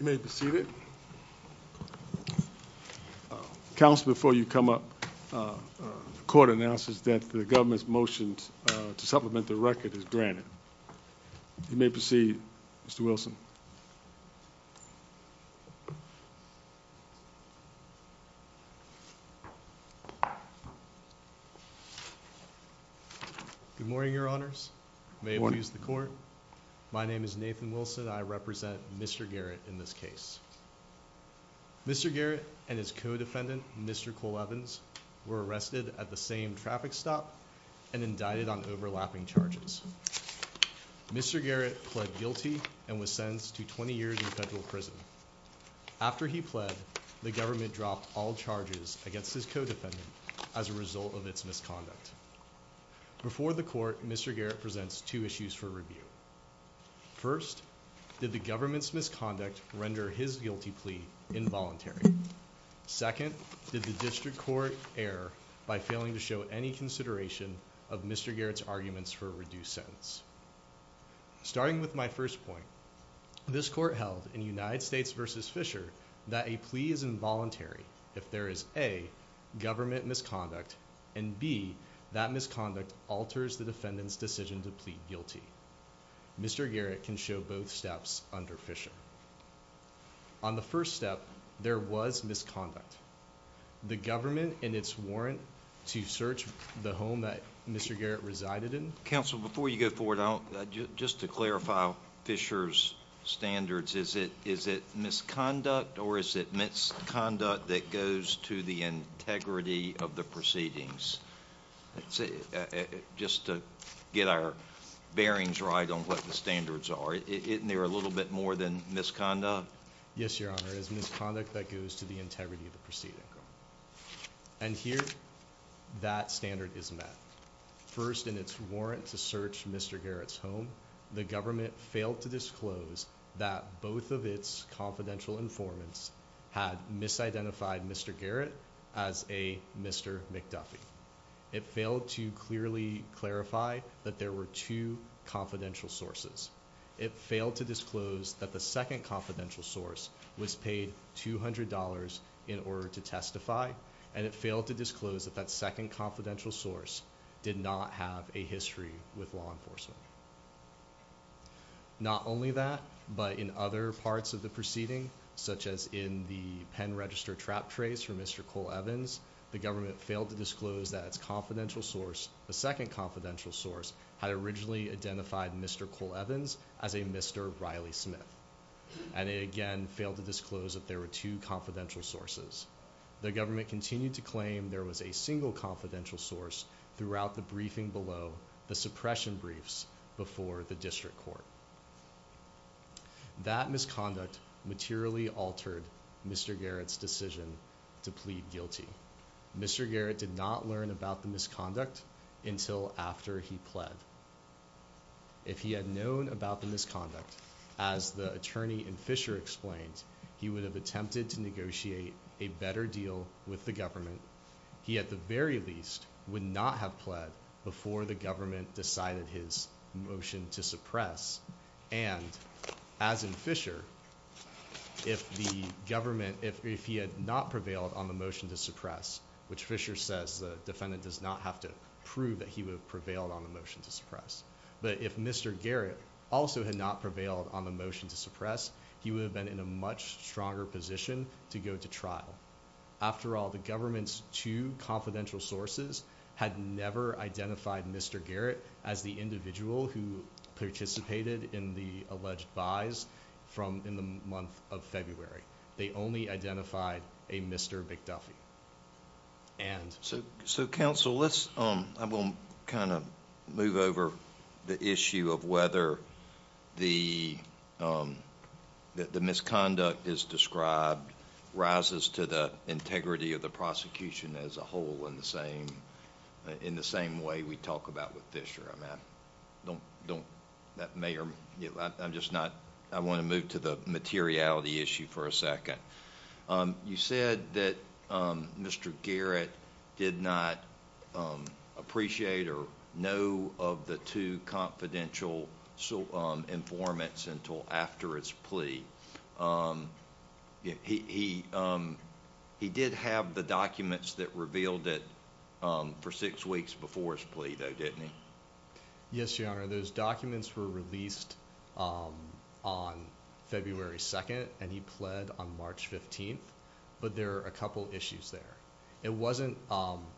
You may be seated. Council before you come up, the court announces that the government's motion to supplement the record is granted. You may proceed, Mr. Wilson. Good morning, Your Honors. May it please the court. My name is Nathan Wilson. I represent Mr. Garrett in this case. Mr. Garrett and his co-defendant, Mr. Cole Evans, were arrested at the same traffic stop and indicted on overlapping charges. Mr. Garrett pled guilty and was sentenced to 20 years in federal prison. After he pled, the government dropped all charges against his co-defendant as a result of its misconduct. Before the court, Mr. Garrett presents two issues for review. First, did the government's misconduct render his guilty plea involuntary? Second, did the district court err by failing to show any consideration of Mr. Garrett's arguments for a reduced sentence? Starting with my first point, this court held in United States v. Fisher that a plea is involuntary if there is A, government misconduct, and B, that misconduct alters the defendant's decision to plead guilty. Mr. Garrett can show both steps under Fisher. On the first step, there was misconduct. The government and its warrant to search the home that Mr. Garrett resided in Counsel, before you go forward, just to clarify Fisher's standards, is it misconduct or is it misconduct that goes to the integrity of the proceedings? Just to get our bearings right on what the standards are, isn't there a little bit more than misconduct? Yes, your honor, it is misconduct that goes to the integrity of the proceeding. And here, that standard is met. First, in its warrant to search Mr. Garrett's home, the government failed to disclose that both of its confidential informants had misidentified Mr. Garrett as a Mr. McDuffie. It failed to clearly clarify that there were two confidential sources. It failed to disclose that the second confidential source was paid $200 in order to testify. And it failed to disclose that that second confidential source did not have a history with law enforcement. Not only that, but in other parts of the proceeding, such as in the pen register trap trace for Mr. Cole Evans, the government failed to disclose that its confidential source, the second confidential source, had originally identified Mr. Cole Evans as a Mr. Riley Smith. And it again failed to disclose that there were two confidential sources. The government continued to claim there was a single confidential source throughout the briefing below the suppression briefs before the district court. That misconduct materially altered Mr. Garrett's decision to plead guilty. Mr. Garrett did not learn about the misconduct until after he pled. If he had known about the misconduct, as the attorney in Fisher explained, he would have attempted to negotiate a better deal with the government. He at the very least would not have pled before the government decided his motion to suppress. And as in Fisher, if the government, if he had not prevailed on the motion to suppress, which Fisher says the defendant does not have to prove that he would have prevailed on the motion to suppress. But if Mr. Garrett also had not prevailed on the motion to suppress, he would have been in a much stronger position to go to trial. After all, the government's two confidential sources had never identified Mr. Garrett as the individual who participated in the alleged buys from in the month of February. They only identified a Mr. McDuffie. And. So, so, council, let's, I will kind of move over the issue of whether the. That the misconduct is described rises to the integrity of the prosecution as a whole in the same. In the same way we talk about with Fisher, I mean, don't, don't that may or I'm just not. I want to move to the materiality issue for a second. You said that Mr. Garrett did not appreciate or know of the two confidential informants until after his plea. He, he did have the documents that revealed it for six weeks before his plea, though, didn't he? Yes, your honor, those documents were released on February 2nd and he pled on March 15th, but there are a couple issues there. It wasn't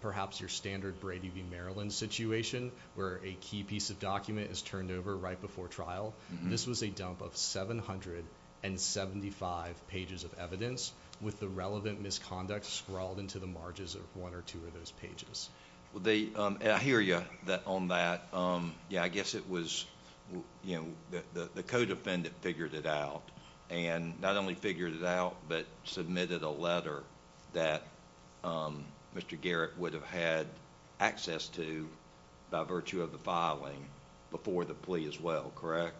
perhaps your standard Brady v. Maryland situation where a key piece of document is turned over right before trial. This was a dump of 775 pages of evidence with the relevant misconduct scrawled into the margins of one or two of those pages. Well, they, I hear you that on that, yeah, I guess it was, you know, the co-defendant figured it out and not only figured it out, but submitted a letter that Mr. Garrett would have had access to by virtue of the filing before the plea as well, correct?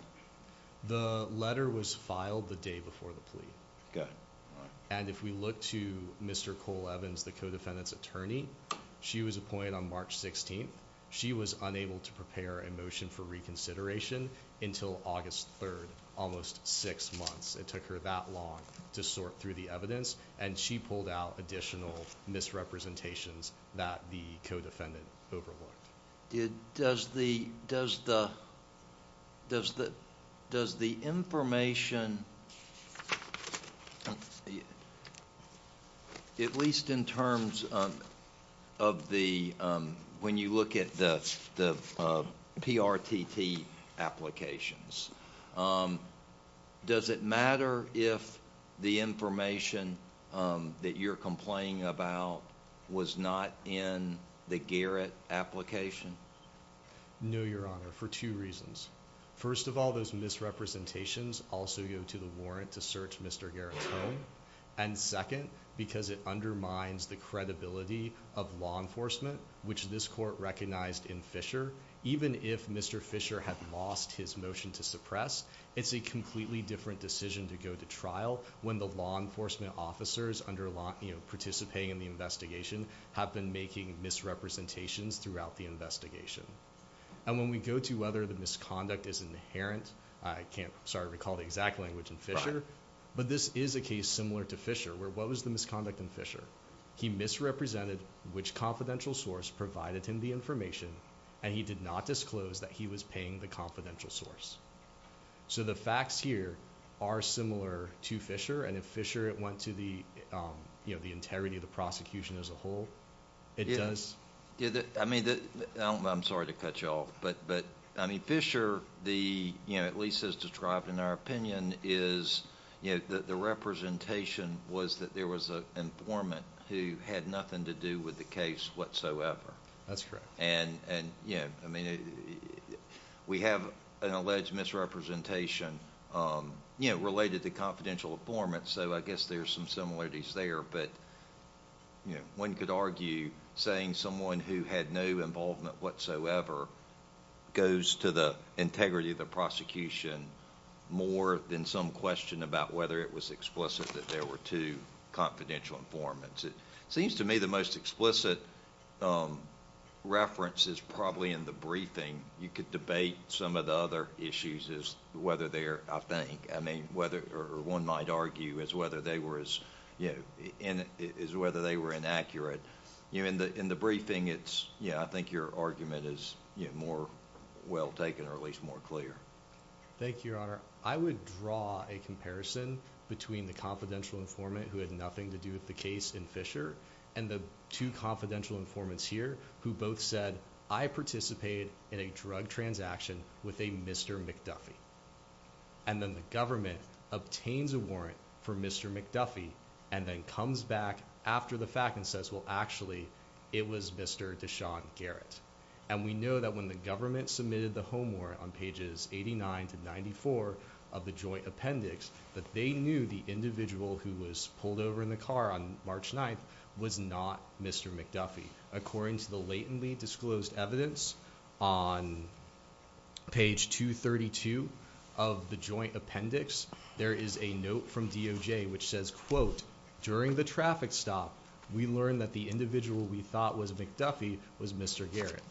The letter was filed the day before the plea. Okay, all right. If we look to Mr. Cole-Evans, the co-defendant's attorney, she was appointed on March 16th. She was unable to prepare a motion for reconsideration until August 3rd, almost six months. It took her that long to sort through the evidence and she pulled out additional misrepresentations that the co-defendant overlooked. Does the, does the, does the, does the information, at least in terms of the, when you look at the PRTT applications, um, does it matter if the information, um, that you're complaining about was not in the Garrett application? No, Your Honor, for two reasons. First of all, those misrepresentations also go to the warrant to search Mr. Garrett's home. And second, because it undermines the credibility of law enforcement, which this court recognized in Fisher, even if Mr. Fisher had lost his motion to suppress, it's a completely different decision to go to trial when the law enforcement officers under law, you know, participating in the investigation have been making misrepresentations throughout the investigation. And when we go to whether the misconduct is inherent, I can't, sorry, recall the exact language in Fisher, but this is a case similar to Fisher, where what was misconduct in Fisher? He misrepresented which confidential source provided him the information, and he did not disclose that he was paying the confidential source. So the facts here are similar to Fisher, and if Fisher went to the, um, you know, the integrity of the prosecution as a whole, it does. I mean, I'm sorry to cut you off, but, but, I mean, Fisher, the, you know, at least as our opinion is, you know, that the representation was that there was an informant who had nothing to do with the case whatsoever. That's correct. And, and, you know, I mean, we have an alleged misrepresentation, um, you know, related to confidential informant, so I guess there's some similarities there, but, you know, one could argue saying someone who had no involvement whatsoever goes to the integrity of the prosecution more than some question about whether it was explicit that there were two confidential informants. It seems to me the most explicit, um, reference is probably in the briefing. You could debate some of the other issues as whether they're, I think, I mean, whether, or one might argue as whether they were as, you know, as whether they were inaccurate. You know, in the, in the briefing, it's, yeah, I think your argument is, you know, more well taken or at least more clear. Thank you, Your Honor. I would draw a comparison between the confidential informant who had nothing to do with the case in Fisher and the two confidential informants here who both said, I participated in a drug transaction with a Mr. McDuffie, and then the government obtains a warrant for Mr. McDuffie and then comes back after the fact and says, well, actually, it was Mr. Deshaun Garrett. And we know that when the government submitted the homework on pages 89 to 94 of the joint appendix, that they knew the individual who was pulled over in the car on March 9th was not Mr. McDuffie. According to the latently disclosed evidence on page 232 of the joint appendix, there is a note from DOJ which says, quote, during the traffic stop, we learned that the individual we thought was McDuffie was Mr. Garrett.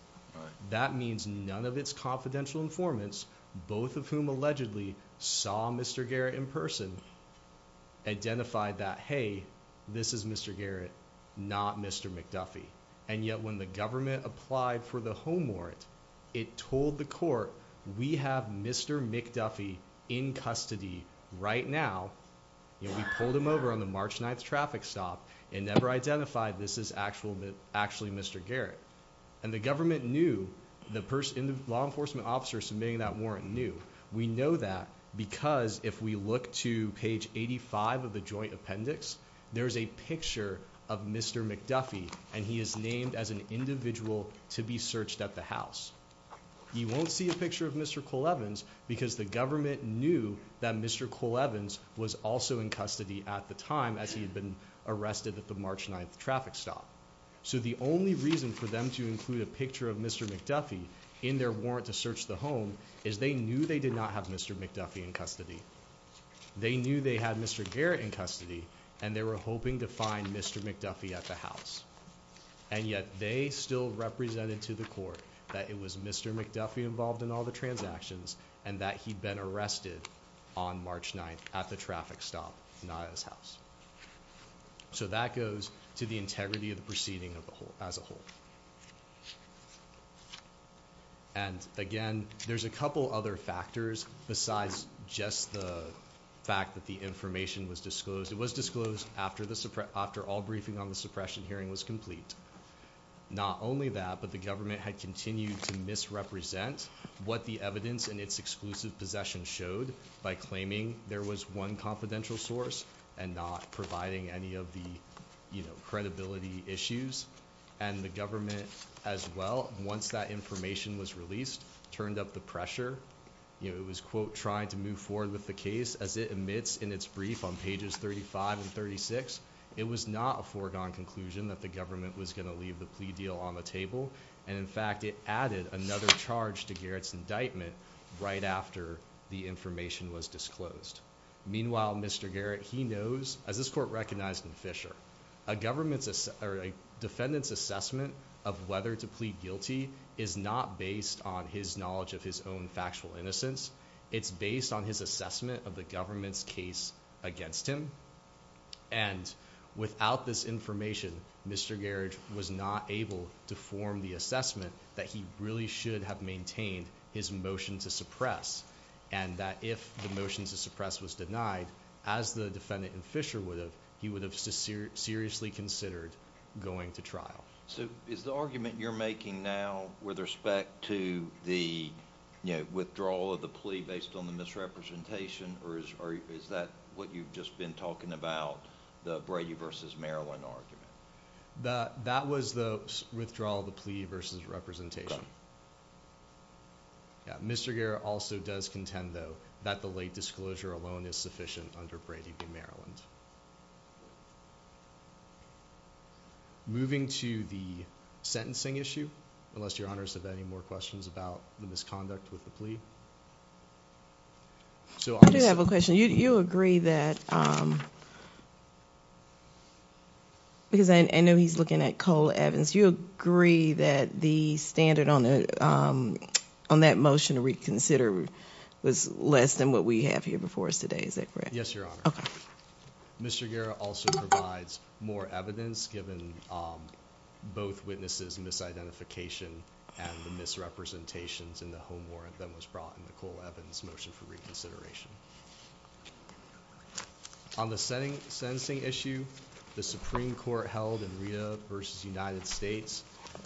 That means none of its confidential informants, both of whom allegedly saw Mr. Garrett in person, identified that, hey, this is Mr. Garrett, not Mr. McDuffie. And yet when the government applied for the home warrant, it told the court, we have Mr. McDuffie in custody right now. We pulled him over on the March 9th. We identified this is actually Mr. Garrett. And the government knew the law enforcement officer submitting that warrant knew. We know that because if we look to page 85 of the joint appendix, there's a picture of Mr. McDuffie, and he is named as an individual to be searched at the house. You won't see a picture of Mr. Cole Evans because the government knew that Mr. Cole Evans was involved in the March 9th traffic stop. So the only reason for them to include a picture of Mr. McDuffie in their warrant to search the home is they knew they did not have Mr. McDuffie in custody. They knew they had Mr. Garrett in custody, and they were hoping to find Mr. McDuffie at the house. And yet they still represented to the court that it was Mr. McDuffie involved in all the transactions and that he'd been arrested on March 9th at the traffic stop, not at his house. So that goes to the integrity of the proceeding as a whole. And again, there's a couple other factors besides just the fact that the information was disclosed. It was disclosed after all briefing on the suppression hearing was complete. Not only that, but the government had continued to misrepresent what the evidence in its exclusive possession showed by claiming there was one confidential source and not providing any of the credibility issues. And the government as well, once that information was released, turned up the pressure. It was, quote, trying to move forward with the case as it admits in its brief on pages 35 and 36. It was not a foregone conclusion that the government was going to leave the plea deal on the table. And in fact, it added another charge to Garrett's indictment right after the information was disclosed. Meanwhile, Mr. Garrett, he knows, as this court recognized in Fisher, a government's defendant's assessment of whether to plead guilty is not based on his knowledge of his own factual innocence. It's based on his assessment of the government's case against him. And without this information, Mr. Garrett was not able to form the assessment that he really should have maintained his motion to suppress. And that if the motion to suppress was denied, as the defendant in Fisher would have, he would have seriously considered going to trial. So is the argument you're making now with respect to the withdrawal of the plea based on the misrepresentation, or is that what you've just been talking about, the Brady versus Maryland argument? That was the withdrawal of the plea versus representation. Mr. Garrett also does contend, though, that the late disclosure alone is sufficient under Brady v. Maryland. Moving to the sentencing issue, unless your honors have any more questions about the misconduct with the plea. I do have a question. You agree that, because I know he's looking at Cole Evans, you agree that the standard on that motion to reconsider was less than what we have here before us today, is that correct? Yes, your honor. Mr. Garrett also provides more evidence given both witnesses' misidentification and the misrepresentations in the home warrant that was brought in Nicole Evans' motion for reconsideration. On the sentencing issue, the Supreme Court held in Rita v. United States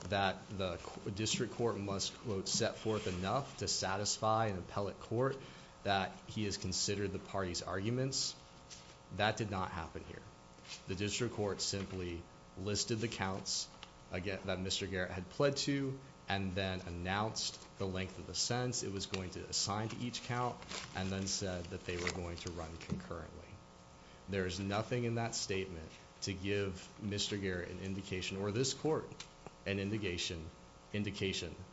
that the district court must, quote, set forth enough to satisfy an appellate court that he has considered the party's arguments. That did not happen here. The district court simply listed the counts that Mr. Garrett had pled to and then announced the length of the sentence. It was going to assign to each count and then said that they were going to run concurrently. There is nothing in that statement to give Mr. Garrett an indication or this court an indication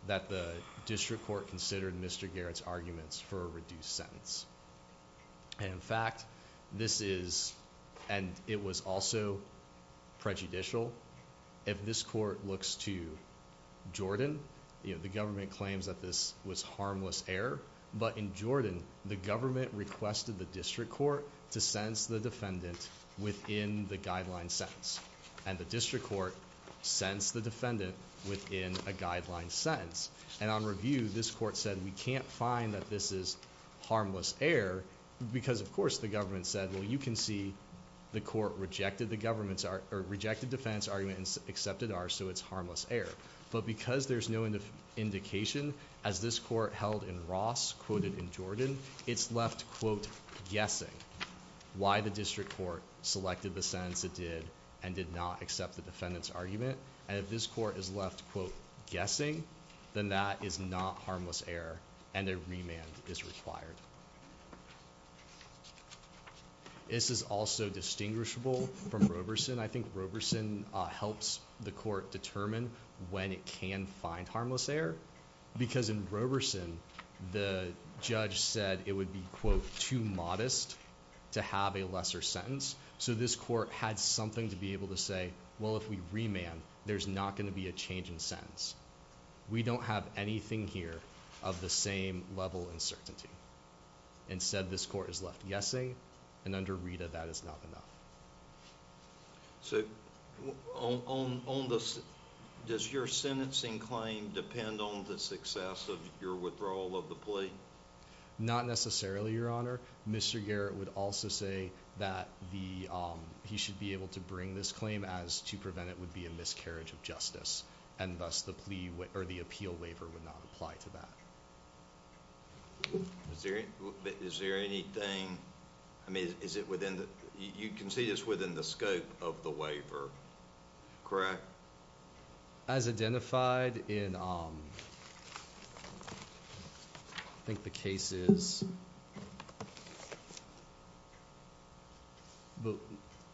that the district court considered Mr. Garrett's arguments for a reduced sentence. In fact, this is, and it was also prejudicial. If this court looks to Jordan, the government claims that this was harmless error, but in Jordan, the government requested the district court to sentence the defendant within the guideline sentence. The district court sentenced the defendant within a guideline sentence. On review, this court said we can't find that this is harmless error because, of course, the government said, well, you can see the court rejected the government's or rejected defense argument and accepted ours, so it's harmless error. But because there's no indication as this court held in Ross quoted in Jordan, it's left, quote, guessing why the district court selected the sentence it did and did not accept the defendant's argument. And if this court is left, quote, guessing, then that is not harmless error and a remand is required. This is also distinguishable from Roberson. I think Roberson helps the court determine when it can find harmless error because in Roberson, the judge said it would be, quote, too modest to have a lesser sentence. So this court had something to be able to say, well, if we remand, there's not going to be a change in sentence. We don't have anything here of the same level uncertainty. Instead, this court is left guessing, and under Rita, that is not enough. So does your sentencing claim depend on the success of your withdrawal of the plea? Not necessarily, Your Honor. Mr. Garrett would also say that he should be able to bring this claim as to prevent it would be a miscarriage of justice, and thus the appeal waiver would not apply to that. Is there anything, I mean, is it within, you can see this within the scope of the waiver, correct? As identified in, I think the case is, but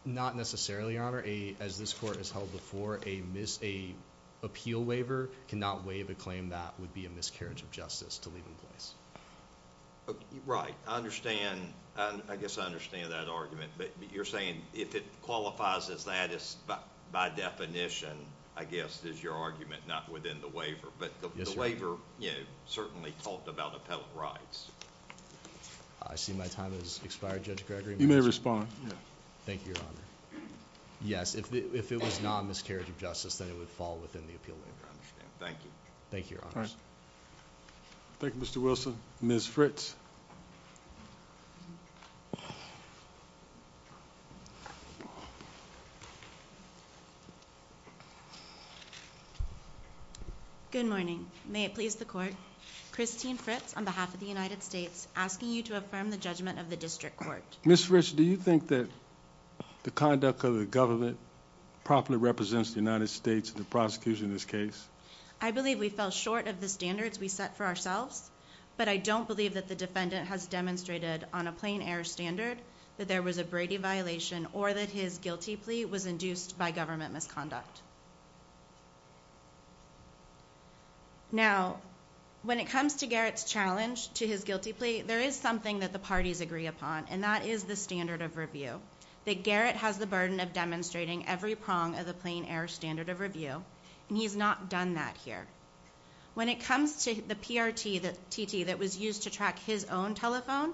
not necessarily, Your Honor. As this court has held before, an appeal waiver cannot waive a claim that would be a miscarriage of justice to leave in place. Right. I understand. I guess I understand that argument, but you're saying if it qualifies as that, by definition, I guess, is your argument, not within the waiver, but the waiver certainly talked about appellate rights. I see my time has expired, Judge Gregory. You may respond. Thank you, Your Honor. Yes, if it was not a miscarriage of justice, then it would fall within the appeal waiver. I understand. Thank you. Thank you, Your Honor. Thank you, Mr. Wilson. Ms. Fritz. Good morning. May it please the Court. Christine Fritz, on behalf of the United States, asking you to affirm the judgment of the District Court. Ms. Fritz, do you think that the conduct of the government properly represents the United States in the prosecution in this case? I believe we fell short of the standards we set for ourselves, but I don't believe that the defendant has demonstrated on a plain air standard that there was a Brady violation or that his guilty plea was induced by government misconduct. Now, when it comes to Garrett's challenge to his guilty plea, there is something that the burden of demonstrating every prong of the plain air standard of review, and he's not done that here. When it comes to the PRTT that was used to track his own telephone,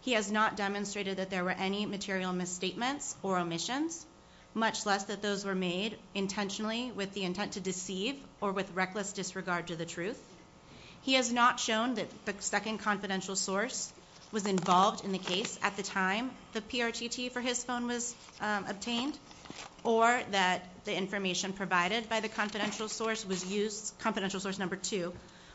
he has not demonstrated that there were any material misstatements or omissions, much less that those were made intentionally with the intent to deceive or with reckless disregard to the truth. He has not shown that the second confidential source was involved in the case at the time the PRTT for his phone was obtained or that the information provided by the confidential source was used, confidential source number two,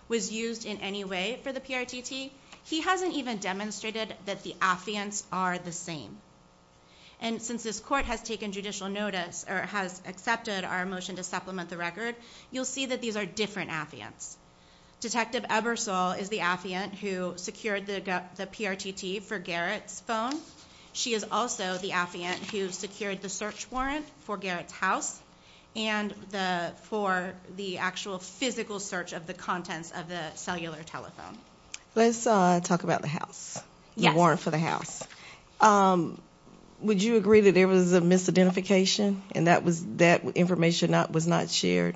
was used in any way for the PRTT. He hasn't even demonstrated that the affiants are the same. And since this court has taken judicial notice or has accepted our motion to supplement the record, you'll see that these are different affiants. Detective Ebersole is the affiant who secured the PRTT for Garrett's phone. She is also the affiant who secured the search warrant for Garrett's house and for the actual physical search of the contents of the cellular telephone. Let's talk about the house, the warrant for the house. Would you agree that there was a misidentification and that information was not shared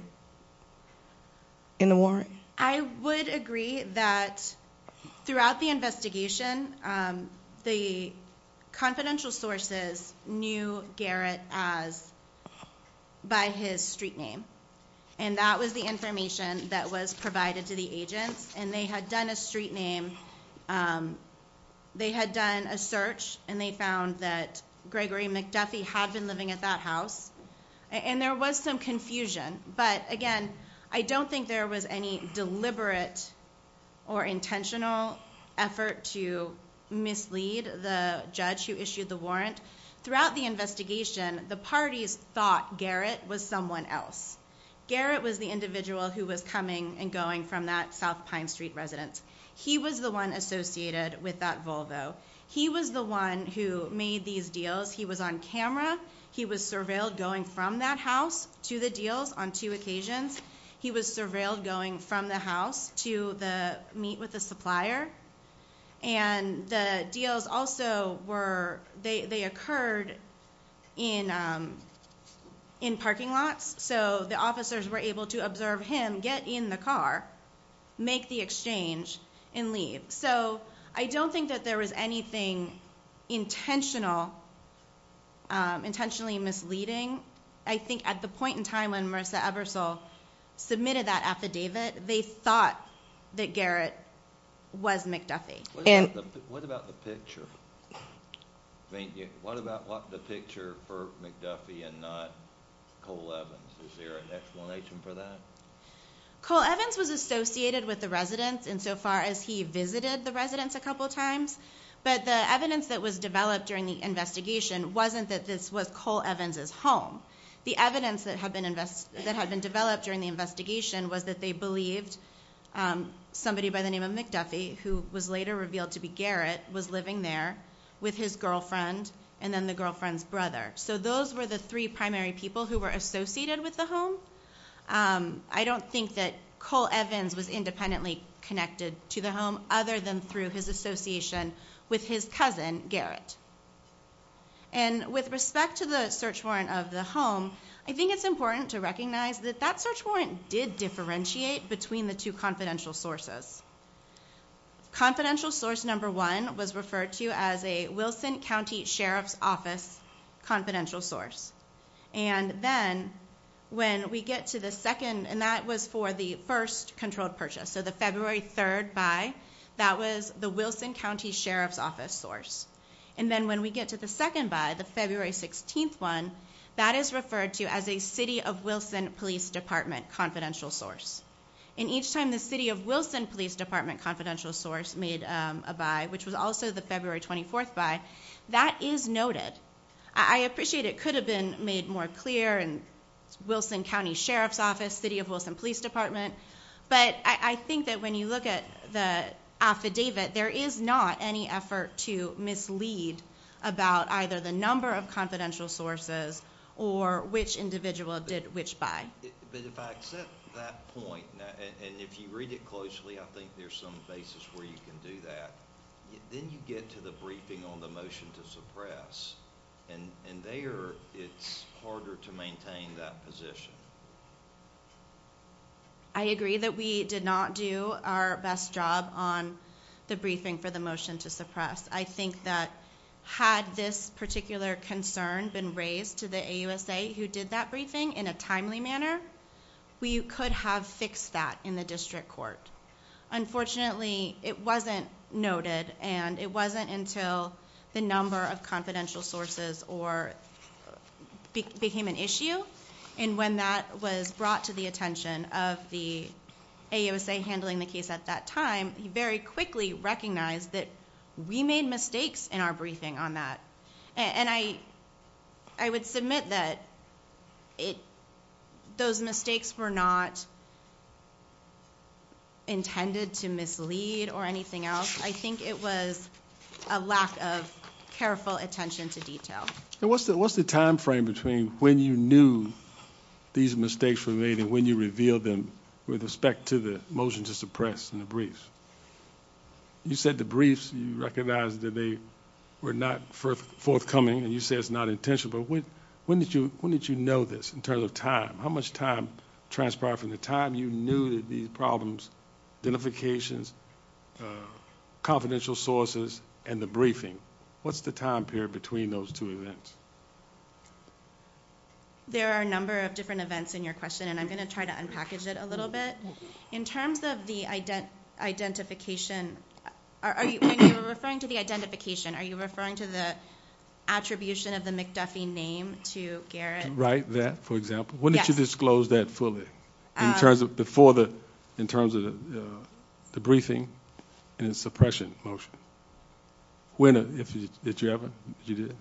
in the warrant? I would agree that throughout the investigation, the confidential sources knew Garrett by his street name. And that was the information that was provided to the agents. And they had done a street name, they had done a search and they found that Gregory McDuffie had been living at that house. And there was some confusion. But again, I don't think there was any deliberate or intentional effort to mislead the judge who issued the warrant. Throughout the investigation, the parties thought Garrett was someone else. Garrett was the individual who was coming and he was the one associated with that Volvo. He was the one who made these deals. He was on camera. He was surveilled going from that house to the deals on two occasions. He was surveilled going from the house to meet with the supplier. And the deals also occurred in parking lots. So the and leave. So I don't think that there was anything intentionally misleading. I think at the point in time when Marissa Ebersole submitted that affidavit, they thought that Garrett was McDuffie. What about the picture for McDuffie and not Cole Evans? Is there an explanation for that? Cole Evans was associated with the residence insofar as he visited the residence a couple times. But the evidence that was developed during the investigation wasn't that this was Cole Evans's home. The evidence that had been developed during the investigation was that they believed somebody by the name of McDuffie, who was later revealed to be Garrett, was living there with his girlfriend and then the girlfriend's brother. So those were the three primary people who were associated with the home. I don't think that Cole Evans was independently connected to the home other than through his association with his cousin Garrett. And with respect to the search warrant of the home, I think it's important to recognize that that search warrant did differentiate between the two confidential sources. Confidential source number one was referred to as a Wilson County Sheriff's Office confidential source. And then when we get to the second, and that was for the first controlled purchase, so the February 3rd buy, that was the Wilson County Sheriff's Office source. And then when we get to the second buy, the February 16th one, that is referred to as a City of Wilson Police Department confidential source. And each time the City of Wilson Police Department confidential source made a buy, which was also the February 24th buy, that is noted. I appreciate it could have been made more clear in Wilson County Sheriff's Office, City of Wilson Police Department. But I think that when you look at the affidavit, there is not any effort to mislead about either the number of confidential sources or which individual did which buy. But if I accept that point, and if you read it closely, I think there's some basis where you can do that. Then you get to the briefing on the motion to suppress. And there it's harder to maintain that position. I agree that we did not do our best job on the briefing for the motion to suppress. I think that had this particular concern been raised to the AUSA who did that we could have fixed that in the district court. Unfortunately, it wasn't noted and it wasn't until the number of confidential sources became an issue. And when that was brought to the attention of the AUSA handling the case at that time, he very quickly recognized that we made mistakes in our briefing on that. And I, I would submit that it, those mistakes were not intended to mislead or anything else. I think it was a lack of careful attention to detail. And what's the, what's the timeframe between when you knew these mistakes were made and when you revealed them with respect to the motion to suppress and the briefs? You said the briefs, you recognize that they were not for forthcoming and you say it's not intentional, but when, when did you, when did you know this in terms of time, how much time transpired from the time you knew that these problems, identifications, uh, confidential sources and the briefing, what's the time period between those two events? There are a number of different events in your question and I'm going to try to unpackage it a little bit in terms of the ident identification. Are you, when you were referring to the identification, are you referring to the attribution of the McDuffie name to Garrett, right? That for example, when did you disclose that fully in terms of before the, in terms of the, uh, the briefing and the suppression motion when, uh, if you, if you ever, you did.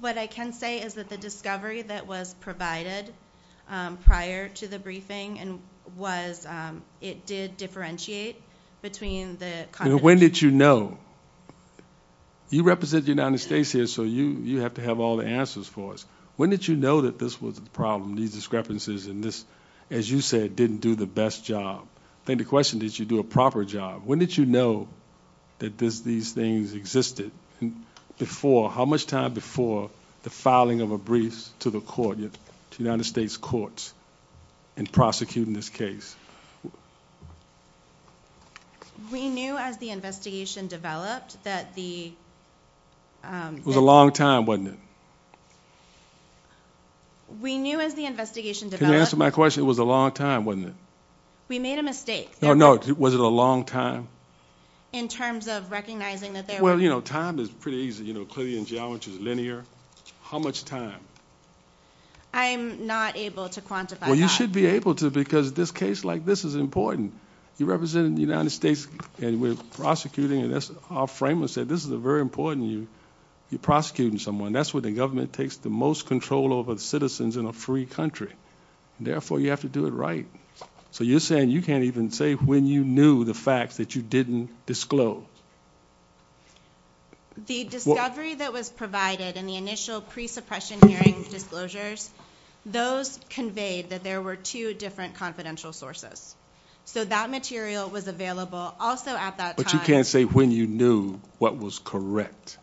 What I can say is that the discovery that was provided, um, prior to the briefing and was, um, it did differentiate between the, when did you know you represent the United States here, so you, you have to have all the answers for us. When did you know that this was the problem, these discrepancies in this, as you said, didn't do the best job. I think the question, did you do a proper job? When did you know that this, these things existed before, how much time before the filing of a brief to the United States courts and prosecuting this case? We knew as the investigation developed that the, um, it was a long time, wasn't it? We knew as the investigation developed. Can you answer my question? It was a long time, wasn't it? We made a mistake. No, no. Was it a long time? In terms of recognizing that there were, you know, time is pretty easy, you know, clearly in geology is linear. How much time? I'm not able to quantify. Well, you should be able to, because this case like this is important. You represent in the United States and we're prosecuting and that's our framework said, this is a very important you, you're prosecuting someone. That's what the government takes the most control over the citizens in a free country. Therefore you have to do it right. So you're saying you can't even say when you knew the facts that you didn't disclose. Yeah. The discovery that was provided in the initial pre suppression hearing disclosures, those conveyed that there were two different confidential sources. So that material was available also at that time. But you can't say when you knew what was correct.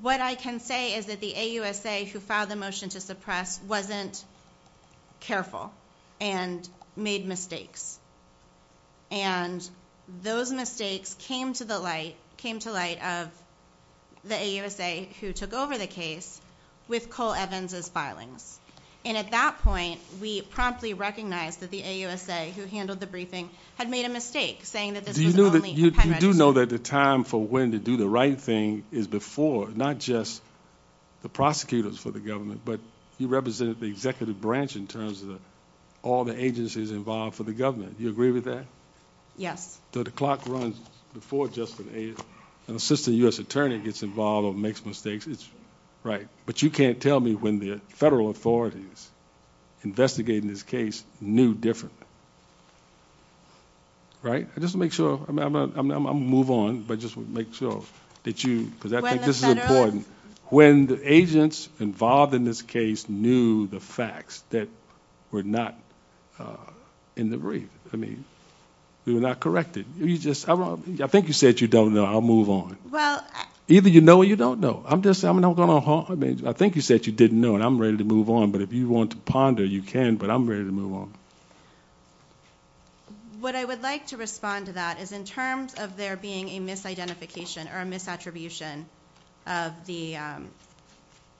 What I can say is that the AUSA who filed the motion to suppress wasn't careful and made mistakes. And those mistakes came to the light came to light of the AUSA who took over the case with Cole Evans as filings. And at that point, we promptly recognized that the AUSA who handled the briefing had made a mistake saying that you do know that the time for when to do the right thing is before not just the prosecutors for the government, but you represented the executive branch in terms of all the agencies involved for the government. You agree with that? Yes. The clock runs before just an assistant U.S. attorney gets involved or makes mistakes. Right. But you can't tell me when the federal authorities investigating this case knew different. Right. I just make sure I move on, but just make sure that you because I think this is important. When the agents involved in this case knew the facts that were not in the brief, I mean, they were not corrected. I think you said you don't know. I'll move on. Either you know or you don't know. I think you said you didn't know and I'm ready to move on. But if you want to ponder, you can, but I'm ready to move on. What I would like to respond to that is in terms of there being a misidentification or the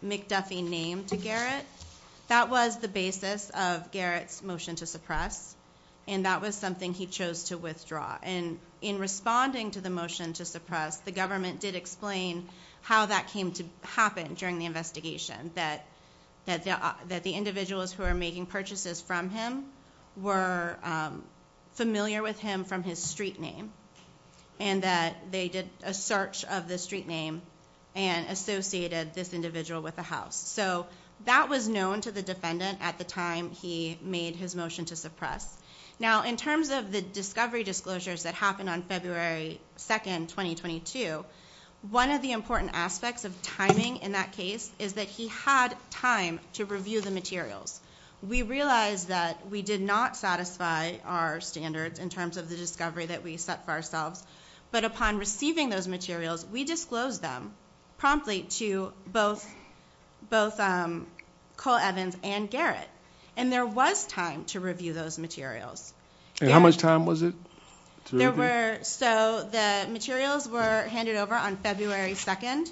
McDuffie name to Garrett, that was the basis of Garrett's motion to suppress. And that was something he chose to withdraw. And in responding to the motion to suppress, the government did explain how that came to happen during the investigation. That the individuals who are making purchases from him were familiar with him from his street name. And that they did a search of the street name and associated this individual with a house. So that was known to the defendant at the time he made his motion to suppress. Now, in terms of the discovery disclosures that happened on February 2nd, 2022, one of the important aspects of timing in that case is that he had time to review the materials. We realized that we did not satisfy our standards in terms of the discovery that we set for ourselves. But upon receiving those materials, we disclosed them promptly to both Cole Evans and Garrett. And there was time to review those materials. And how much time was it? So the materials were handed over on February 2nd.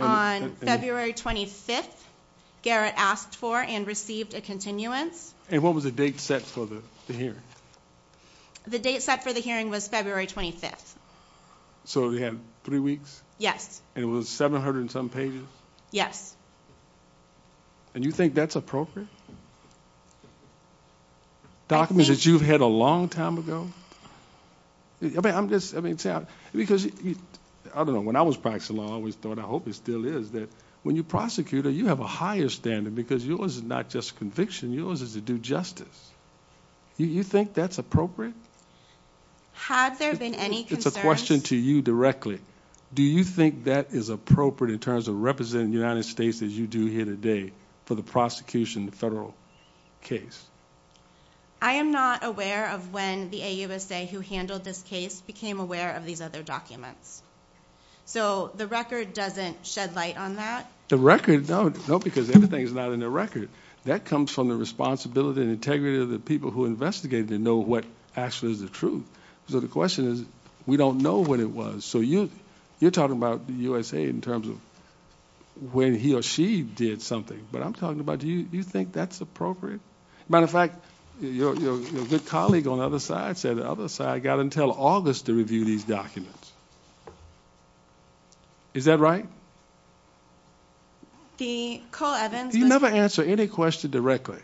On February 25th, Garrett asked for and a continuance. And what was the date set for the hearing? The date set for the hearing was February 25th. So they had three weeks? Yes. And it was 700 and some pages? Yes. And you think that's appropriate? Documents that you've had a long time ago? I mean, I'm just, I mean, because, I don't know, when I was practicing law, I always thought, I hope it still is, that when you prosecute, you have a higher standard because yours is just a conviction, yours is to do justice. You think that's appropriate? Had there been any concerns? It's a question to you directly. Do you think that is appropriate in terms of representing the United States as you do here today for the prosecution, the federal case? I am not aware of when the AUSA who handled this case became aware of these other documents. So the record doesn't shed light on that? The record, no, because everything is not in the record. That comes from the responsibility and integrity of the people who investigated and know what actually is the truth. So the question is, we don't know when it was. So you're talking about the USA in terms of when he or she did something. But I'm talking about, do you think that's appropriate? Matter of fact, your good colleague on the other side said the other side got until August to review these documents. Is that right? The Cole Evans... You never answer any question directly.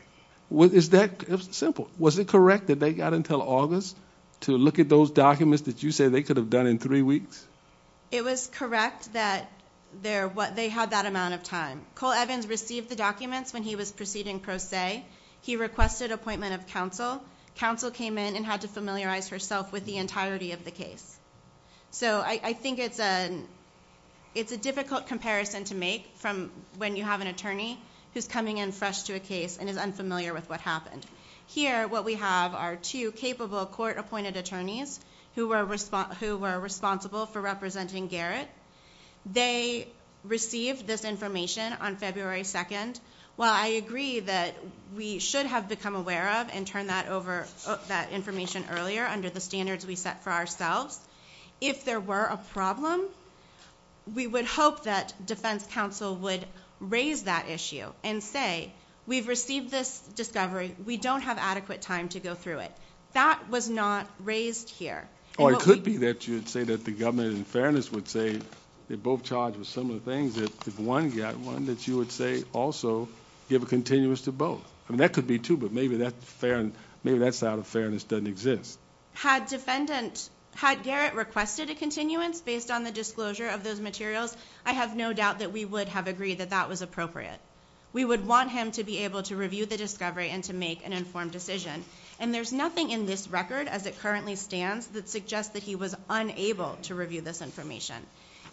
Is that simple? Was it correct that they got until August to look at those documents that you said they could have done in three weeks? It was correct that they had that amount of time. Cole Evans received the documents when he was proceeding pro se. He requested appointment of counsel. Counsel came in and had to familiarize herself with the entirety of the case. So I think it's a difficult comparison to make from when you have an attorney who's coming in fresh to a case and is unfamiliar with what happened. Here, what we have are two capable court appointed attorneys who were responsible for representing Garrett. They received this information on February 2nd. While I agree that we should have become aware of and turn that information earlier under the standards we set for ourselves, if there were a problem, we would hope that defense counsel would raise that issue and say, we've received this discovery. We don't have adequate time to go through it. That was not raised here. Or it could be that you'd say that the government in fairness would say they're both charged with similar things if one got one that you would say also give a continuous to both. I mean, that could be too, but maybe that's out of fairness doesn't exist. Had defendant, had Garrett requested a continuance based on the disclosure of those materials, I have no doubt that we would have agreed that that was appropriate. We would want him to be able to review the discovery and to make an informed decision. And there's nothing in this record as it currently stands that suggests that he was unable to review this information.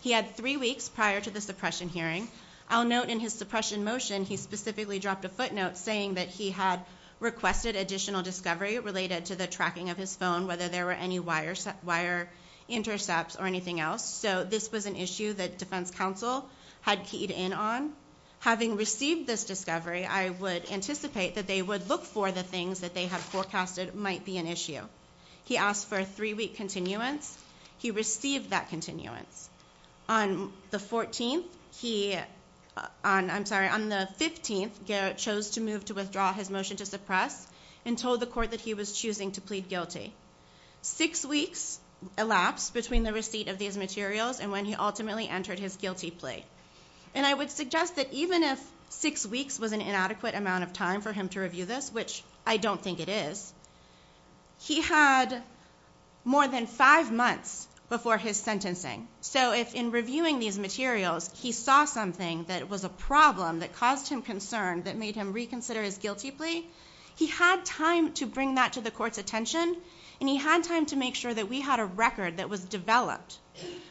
He had three weeks prior to the suppression hearing. I'll note in his suppression motion, he specifically dropped a footnote saying that he had requested additional discovery related to the tracking of his phone, whether there were any wires, wire intercepts or anything else. So this was an issue that defense counsel had keyed in on. Having received this discovery, I would anticipate that they would look for the things that they have forecasted might be an issue. He asked for a three-week continuance. He received that continuance. On the 14th, he, on, I'm sorry, on the 15th Garrett chose to move to withdraw his motion to suppress and told the court that he was choosing to plead guilty. Six weeks elapsed between the receipt of these materials and when he ultimately entered his guilty plea. And I would suggest that even if six weeks was an inadequate amount of time for him to review this, which I don't think it is, he had more than five months before his sentencing. So if in reviewing these materials, he saw something that was a problem that caused him to plead guilty, he had time to bring that to the court's attention and he had time to make sure that we had a record that was developed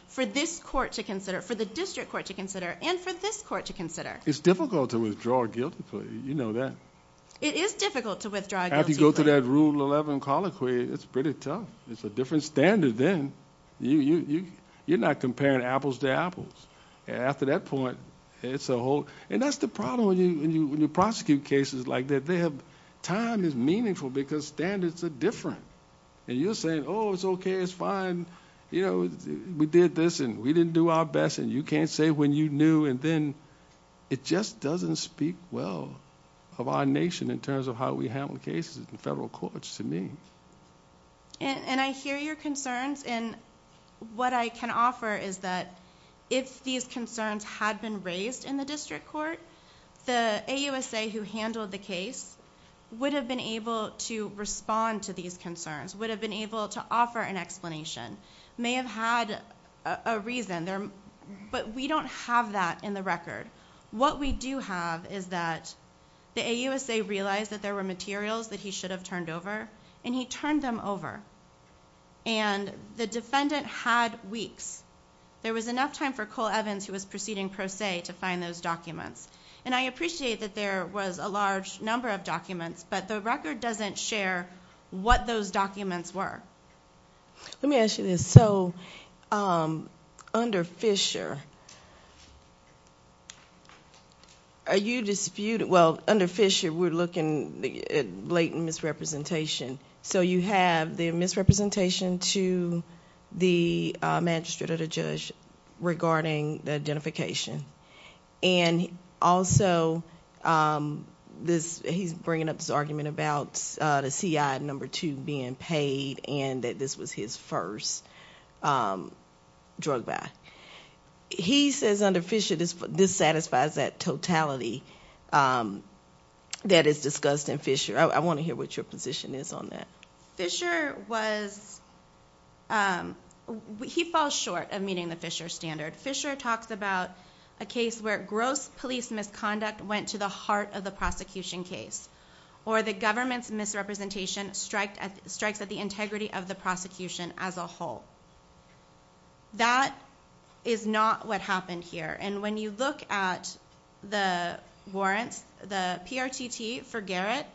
for this court to consider, for the district court to consider and for this court to consider. It's difficult to withdraw a guilty plea. You know that. It is difficult to withdraw a guilty plea. After you go through that rule 11 colloquy, it's pretty tough. It's a different standard then. You're not comparing apples to apples. After that point, it's a whole, and that's the problem when you prosecute cases like this, time is meaningful because standards are different. And you're saying, oh, it's okay. It's fine. You know, we did this and we didn't do our best and you can't say when you knew. And then it just doesn't speak well of our nation in terms of how we handle cases in federal courts to me. And I hear your concerns and what I can offer is that if these concerns had been raised in the district court, the AUSA who handled the case would have been able to respond to these concerns, would have been able to offer an explanation, may have had a reason. But we don't have that in the record. What we do have is that the AUSA realized that there were materials that he should have turned over and he turned them over. And the defendant had weeks. There was enough time for Cole Evans who was proceeding pro se to find those documents. And I appreciate that there was a large number of documents, but the record doesn't share what those documents were. Let me ask you this. So under Fisher, are you disputing, well, under Fisher, we're looking at blatant misrepresentation. So you have the misrepresentation to the magistrate or the judge regarding the identification. And also, he's bringing up this argument about the CI number two being paid and that this was his first drug buy. He says under Fisher, this satisfies that totality that is discussed in Fisher. I want to hear what your position is on that. Fisher was, he falls short of meeting the Fisher standard. Fisher talks about a case where gross police misconduct went to the heart of the prosecution case or the government's misrepresentation strikes at the integrity of the prosecution as a whole. That is not what happened here. And when you look at the warrants, the PRTT for Garrett,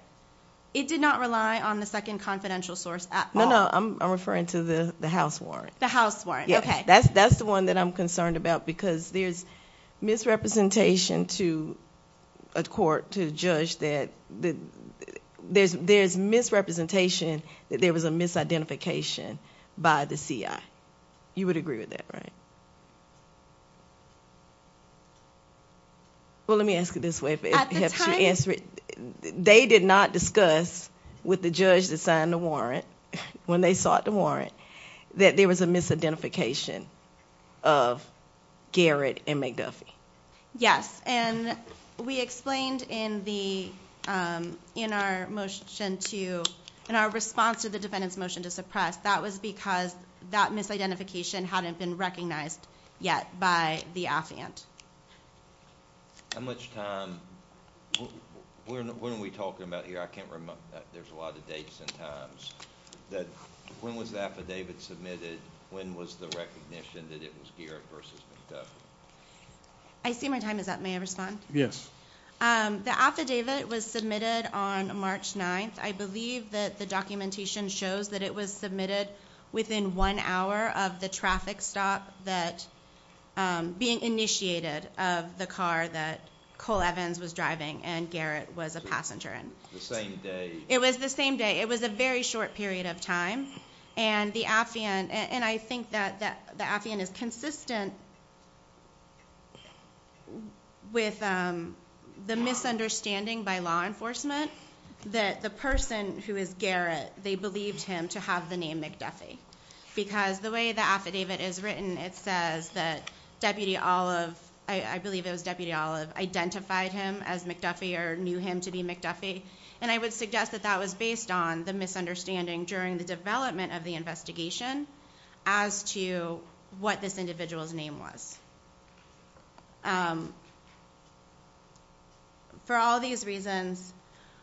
it did not rely on the second confidential source at all. No, no, I'm referring to the house warrant. The house warrant, okay. That's the one that I'm concerned about because there's misrepresentation to a court to judge that there's misrepresentation that there was a misidentification by the CI. You would agree with that, right? Well, let me ask it this way. They did not discuss with the judge that signed the warrant, when they sought the warrant, that there was a misidentification of Garrett and McDuffie. Yes, and we explained in our motion to, in our response to the defendant's motion to suppress, that was because that misidentification hadn't been recognized yet by the affiant. How much time, what are we talking about here? I can't remember, there's a lot of dates and times. That when was the affidavit submitted? When was the recognition that it was Garrett versus McDuffie? I see my time is up, may I respond? Yes. The affidavit was submitted on March 9th. I believe that the documentation shows that it was submitted within one hour of the traffic stop that being initiated of the car that Cole Evans was driving and Garrett was a passenger in. The same day. It was the same day. It was a very short period of time and the affiant, and I think that the affiant is consistent with the misunderstanding by law enforcement that the person who is Garrett, they believed him to have the name McDuffie because the way the affidavit is written, it says that Deputy Olive, I believe it was Deputy Olive, identified him as McDuffie or knew him to be McDuffie and I would suggest that that was based on the misunderstanding during the development of the investigation as to what this individual's name was. For all these reasons,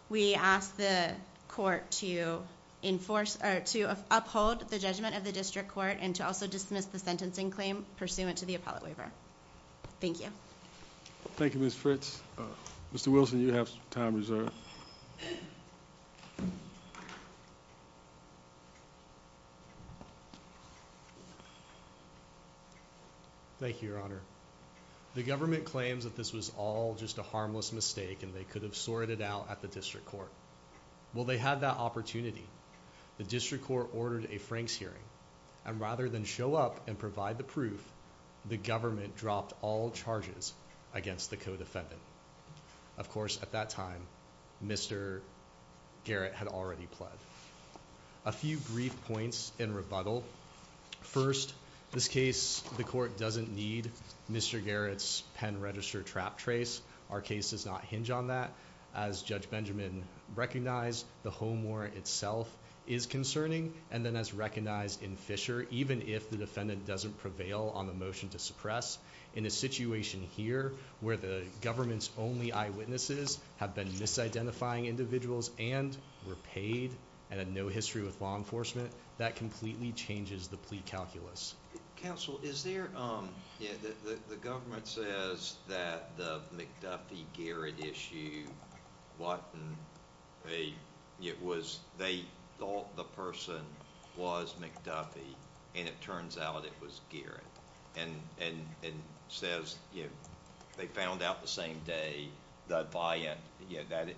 we ask the court to enforce or to uphold the judgment of the district court and to also dismiss the sentencing claim pursuant to the appellate waiver. Thank you. Thank you, Ms. Fritz. Mr. Wilson, you have time reserved. Thank you, Your Honor. The government claims that this was all just a harmless mistake and they could have sorted out at the district court. Well, they had that opportunity. The district court ordered a Frank's hearing and rather than show up and provide the proof, the government dropped all charges against the co-defendant. Of course, at that time, Mr. Garrett had already pled. A few brief points in rebuttal. First, this case, the court doesn't need Mr. Garrett's pen register trap trace. Our case does not hinge on that. As Judge Benjamin recognized, the home warrant itself is concerning and then as recognized in Fisher, even if the defendant doesn't prevail on the motion to suppress in a situation here where the government's only eyewitnesses have been misidentifying individuals and were paid and had no history with law enforcement, that completely changes the plea calculus. Counsel, the government says that the McDuffie-Garrett issue, they thought the person was McDuffie and it turns out it was Garrett and says they found out the same day that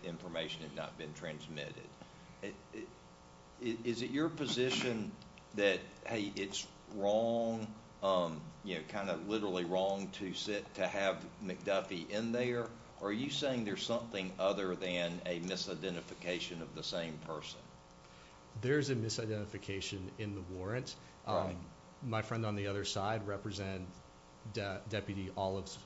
information had not been transmitted. Is it your position that, hey, it's wrong, kind of literally wrong to have McDuffie in there? Are you saying there's something other than a misidentification of the same person? My friend on the other side represents Deputy Olive's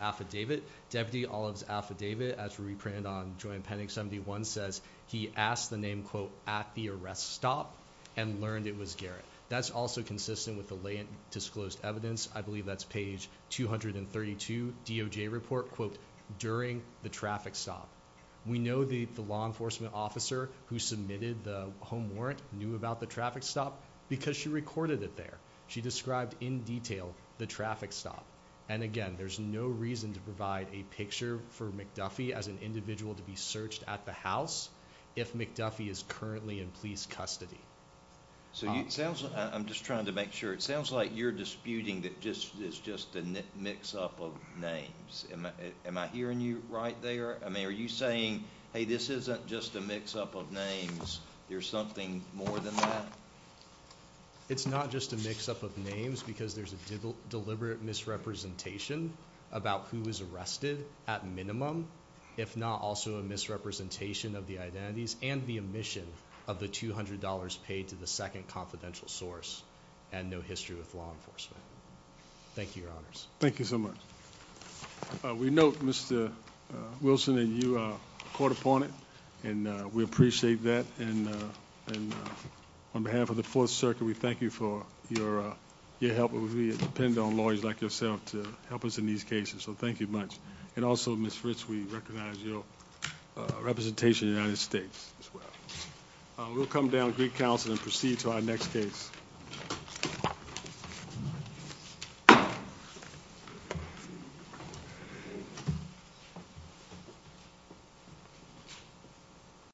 affidavit. Deputy Olive's affidavit, as reprinted on joint pending 71, says he asked the name, quote, at the arrest stop and learned it was Garrett. That's also consistent with the latent disclosed evidence. I believe that's page 232, DOJ report, quote, during the traffic stop. We know the law enforcement officer who submitted the home warrant knew about the traffic stop because she recorded it there. She described in detail the traffic stop. And again, there's no reason to provide a picture for McDuffie as an individual to be searched at the house if McDuffie is currently in police custody. So it sounds, I'm just trying to make sure, it sounds like you're disputing that this is just a mix-up of names. Am I hearing you right there? I mean, are you saying, hey, this isn't just a mix-up of names? There's something more than that? It's not just a mix-up of names because there's a deliberate misrepresentation about who was arrested at minimum, if not also a misrepresentation of the identities and the omission of the $200 paid to the second confidential source and no history with law enforcement. Thank you, Your Honors. Thank you so much. We note Mr. Wilson and you are caught upon it and we appreciate that. And on behalf of the Fourth Circuit, we thank you for your help. We depend on lawyers like yourself to help us in these cases. So thank you much. And also, Ms. Ritz, we recognize your representation in the United States as well. We'll come down to Greek Council and proceed to our next case.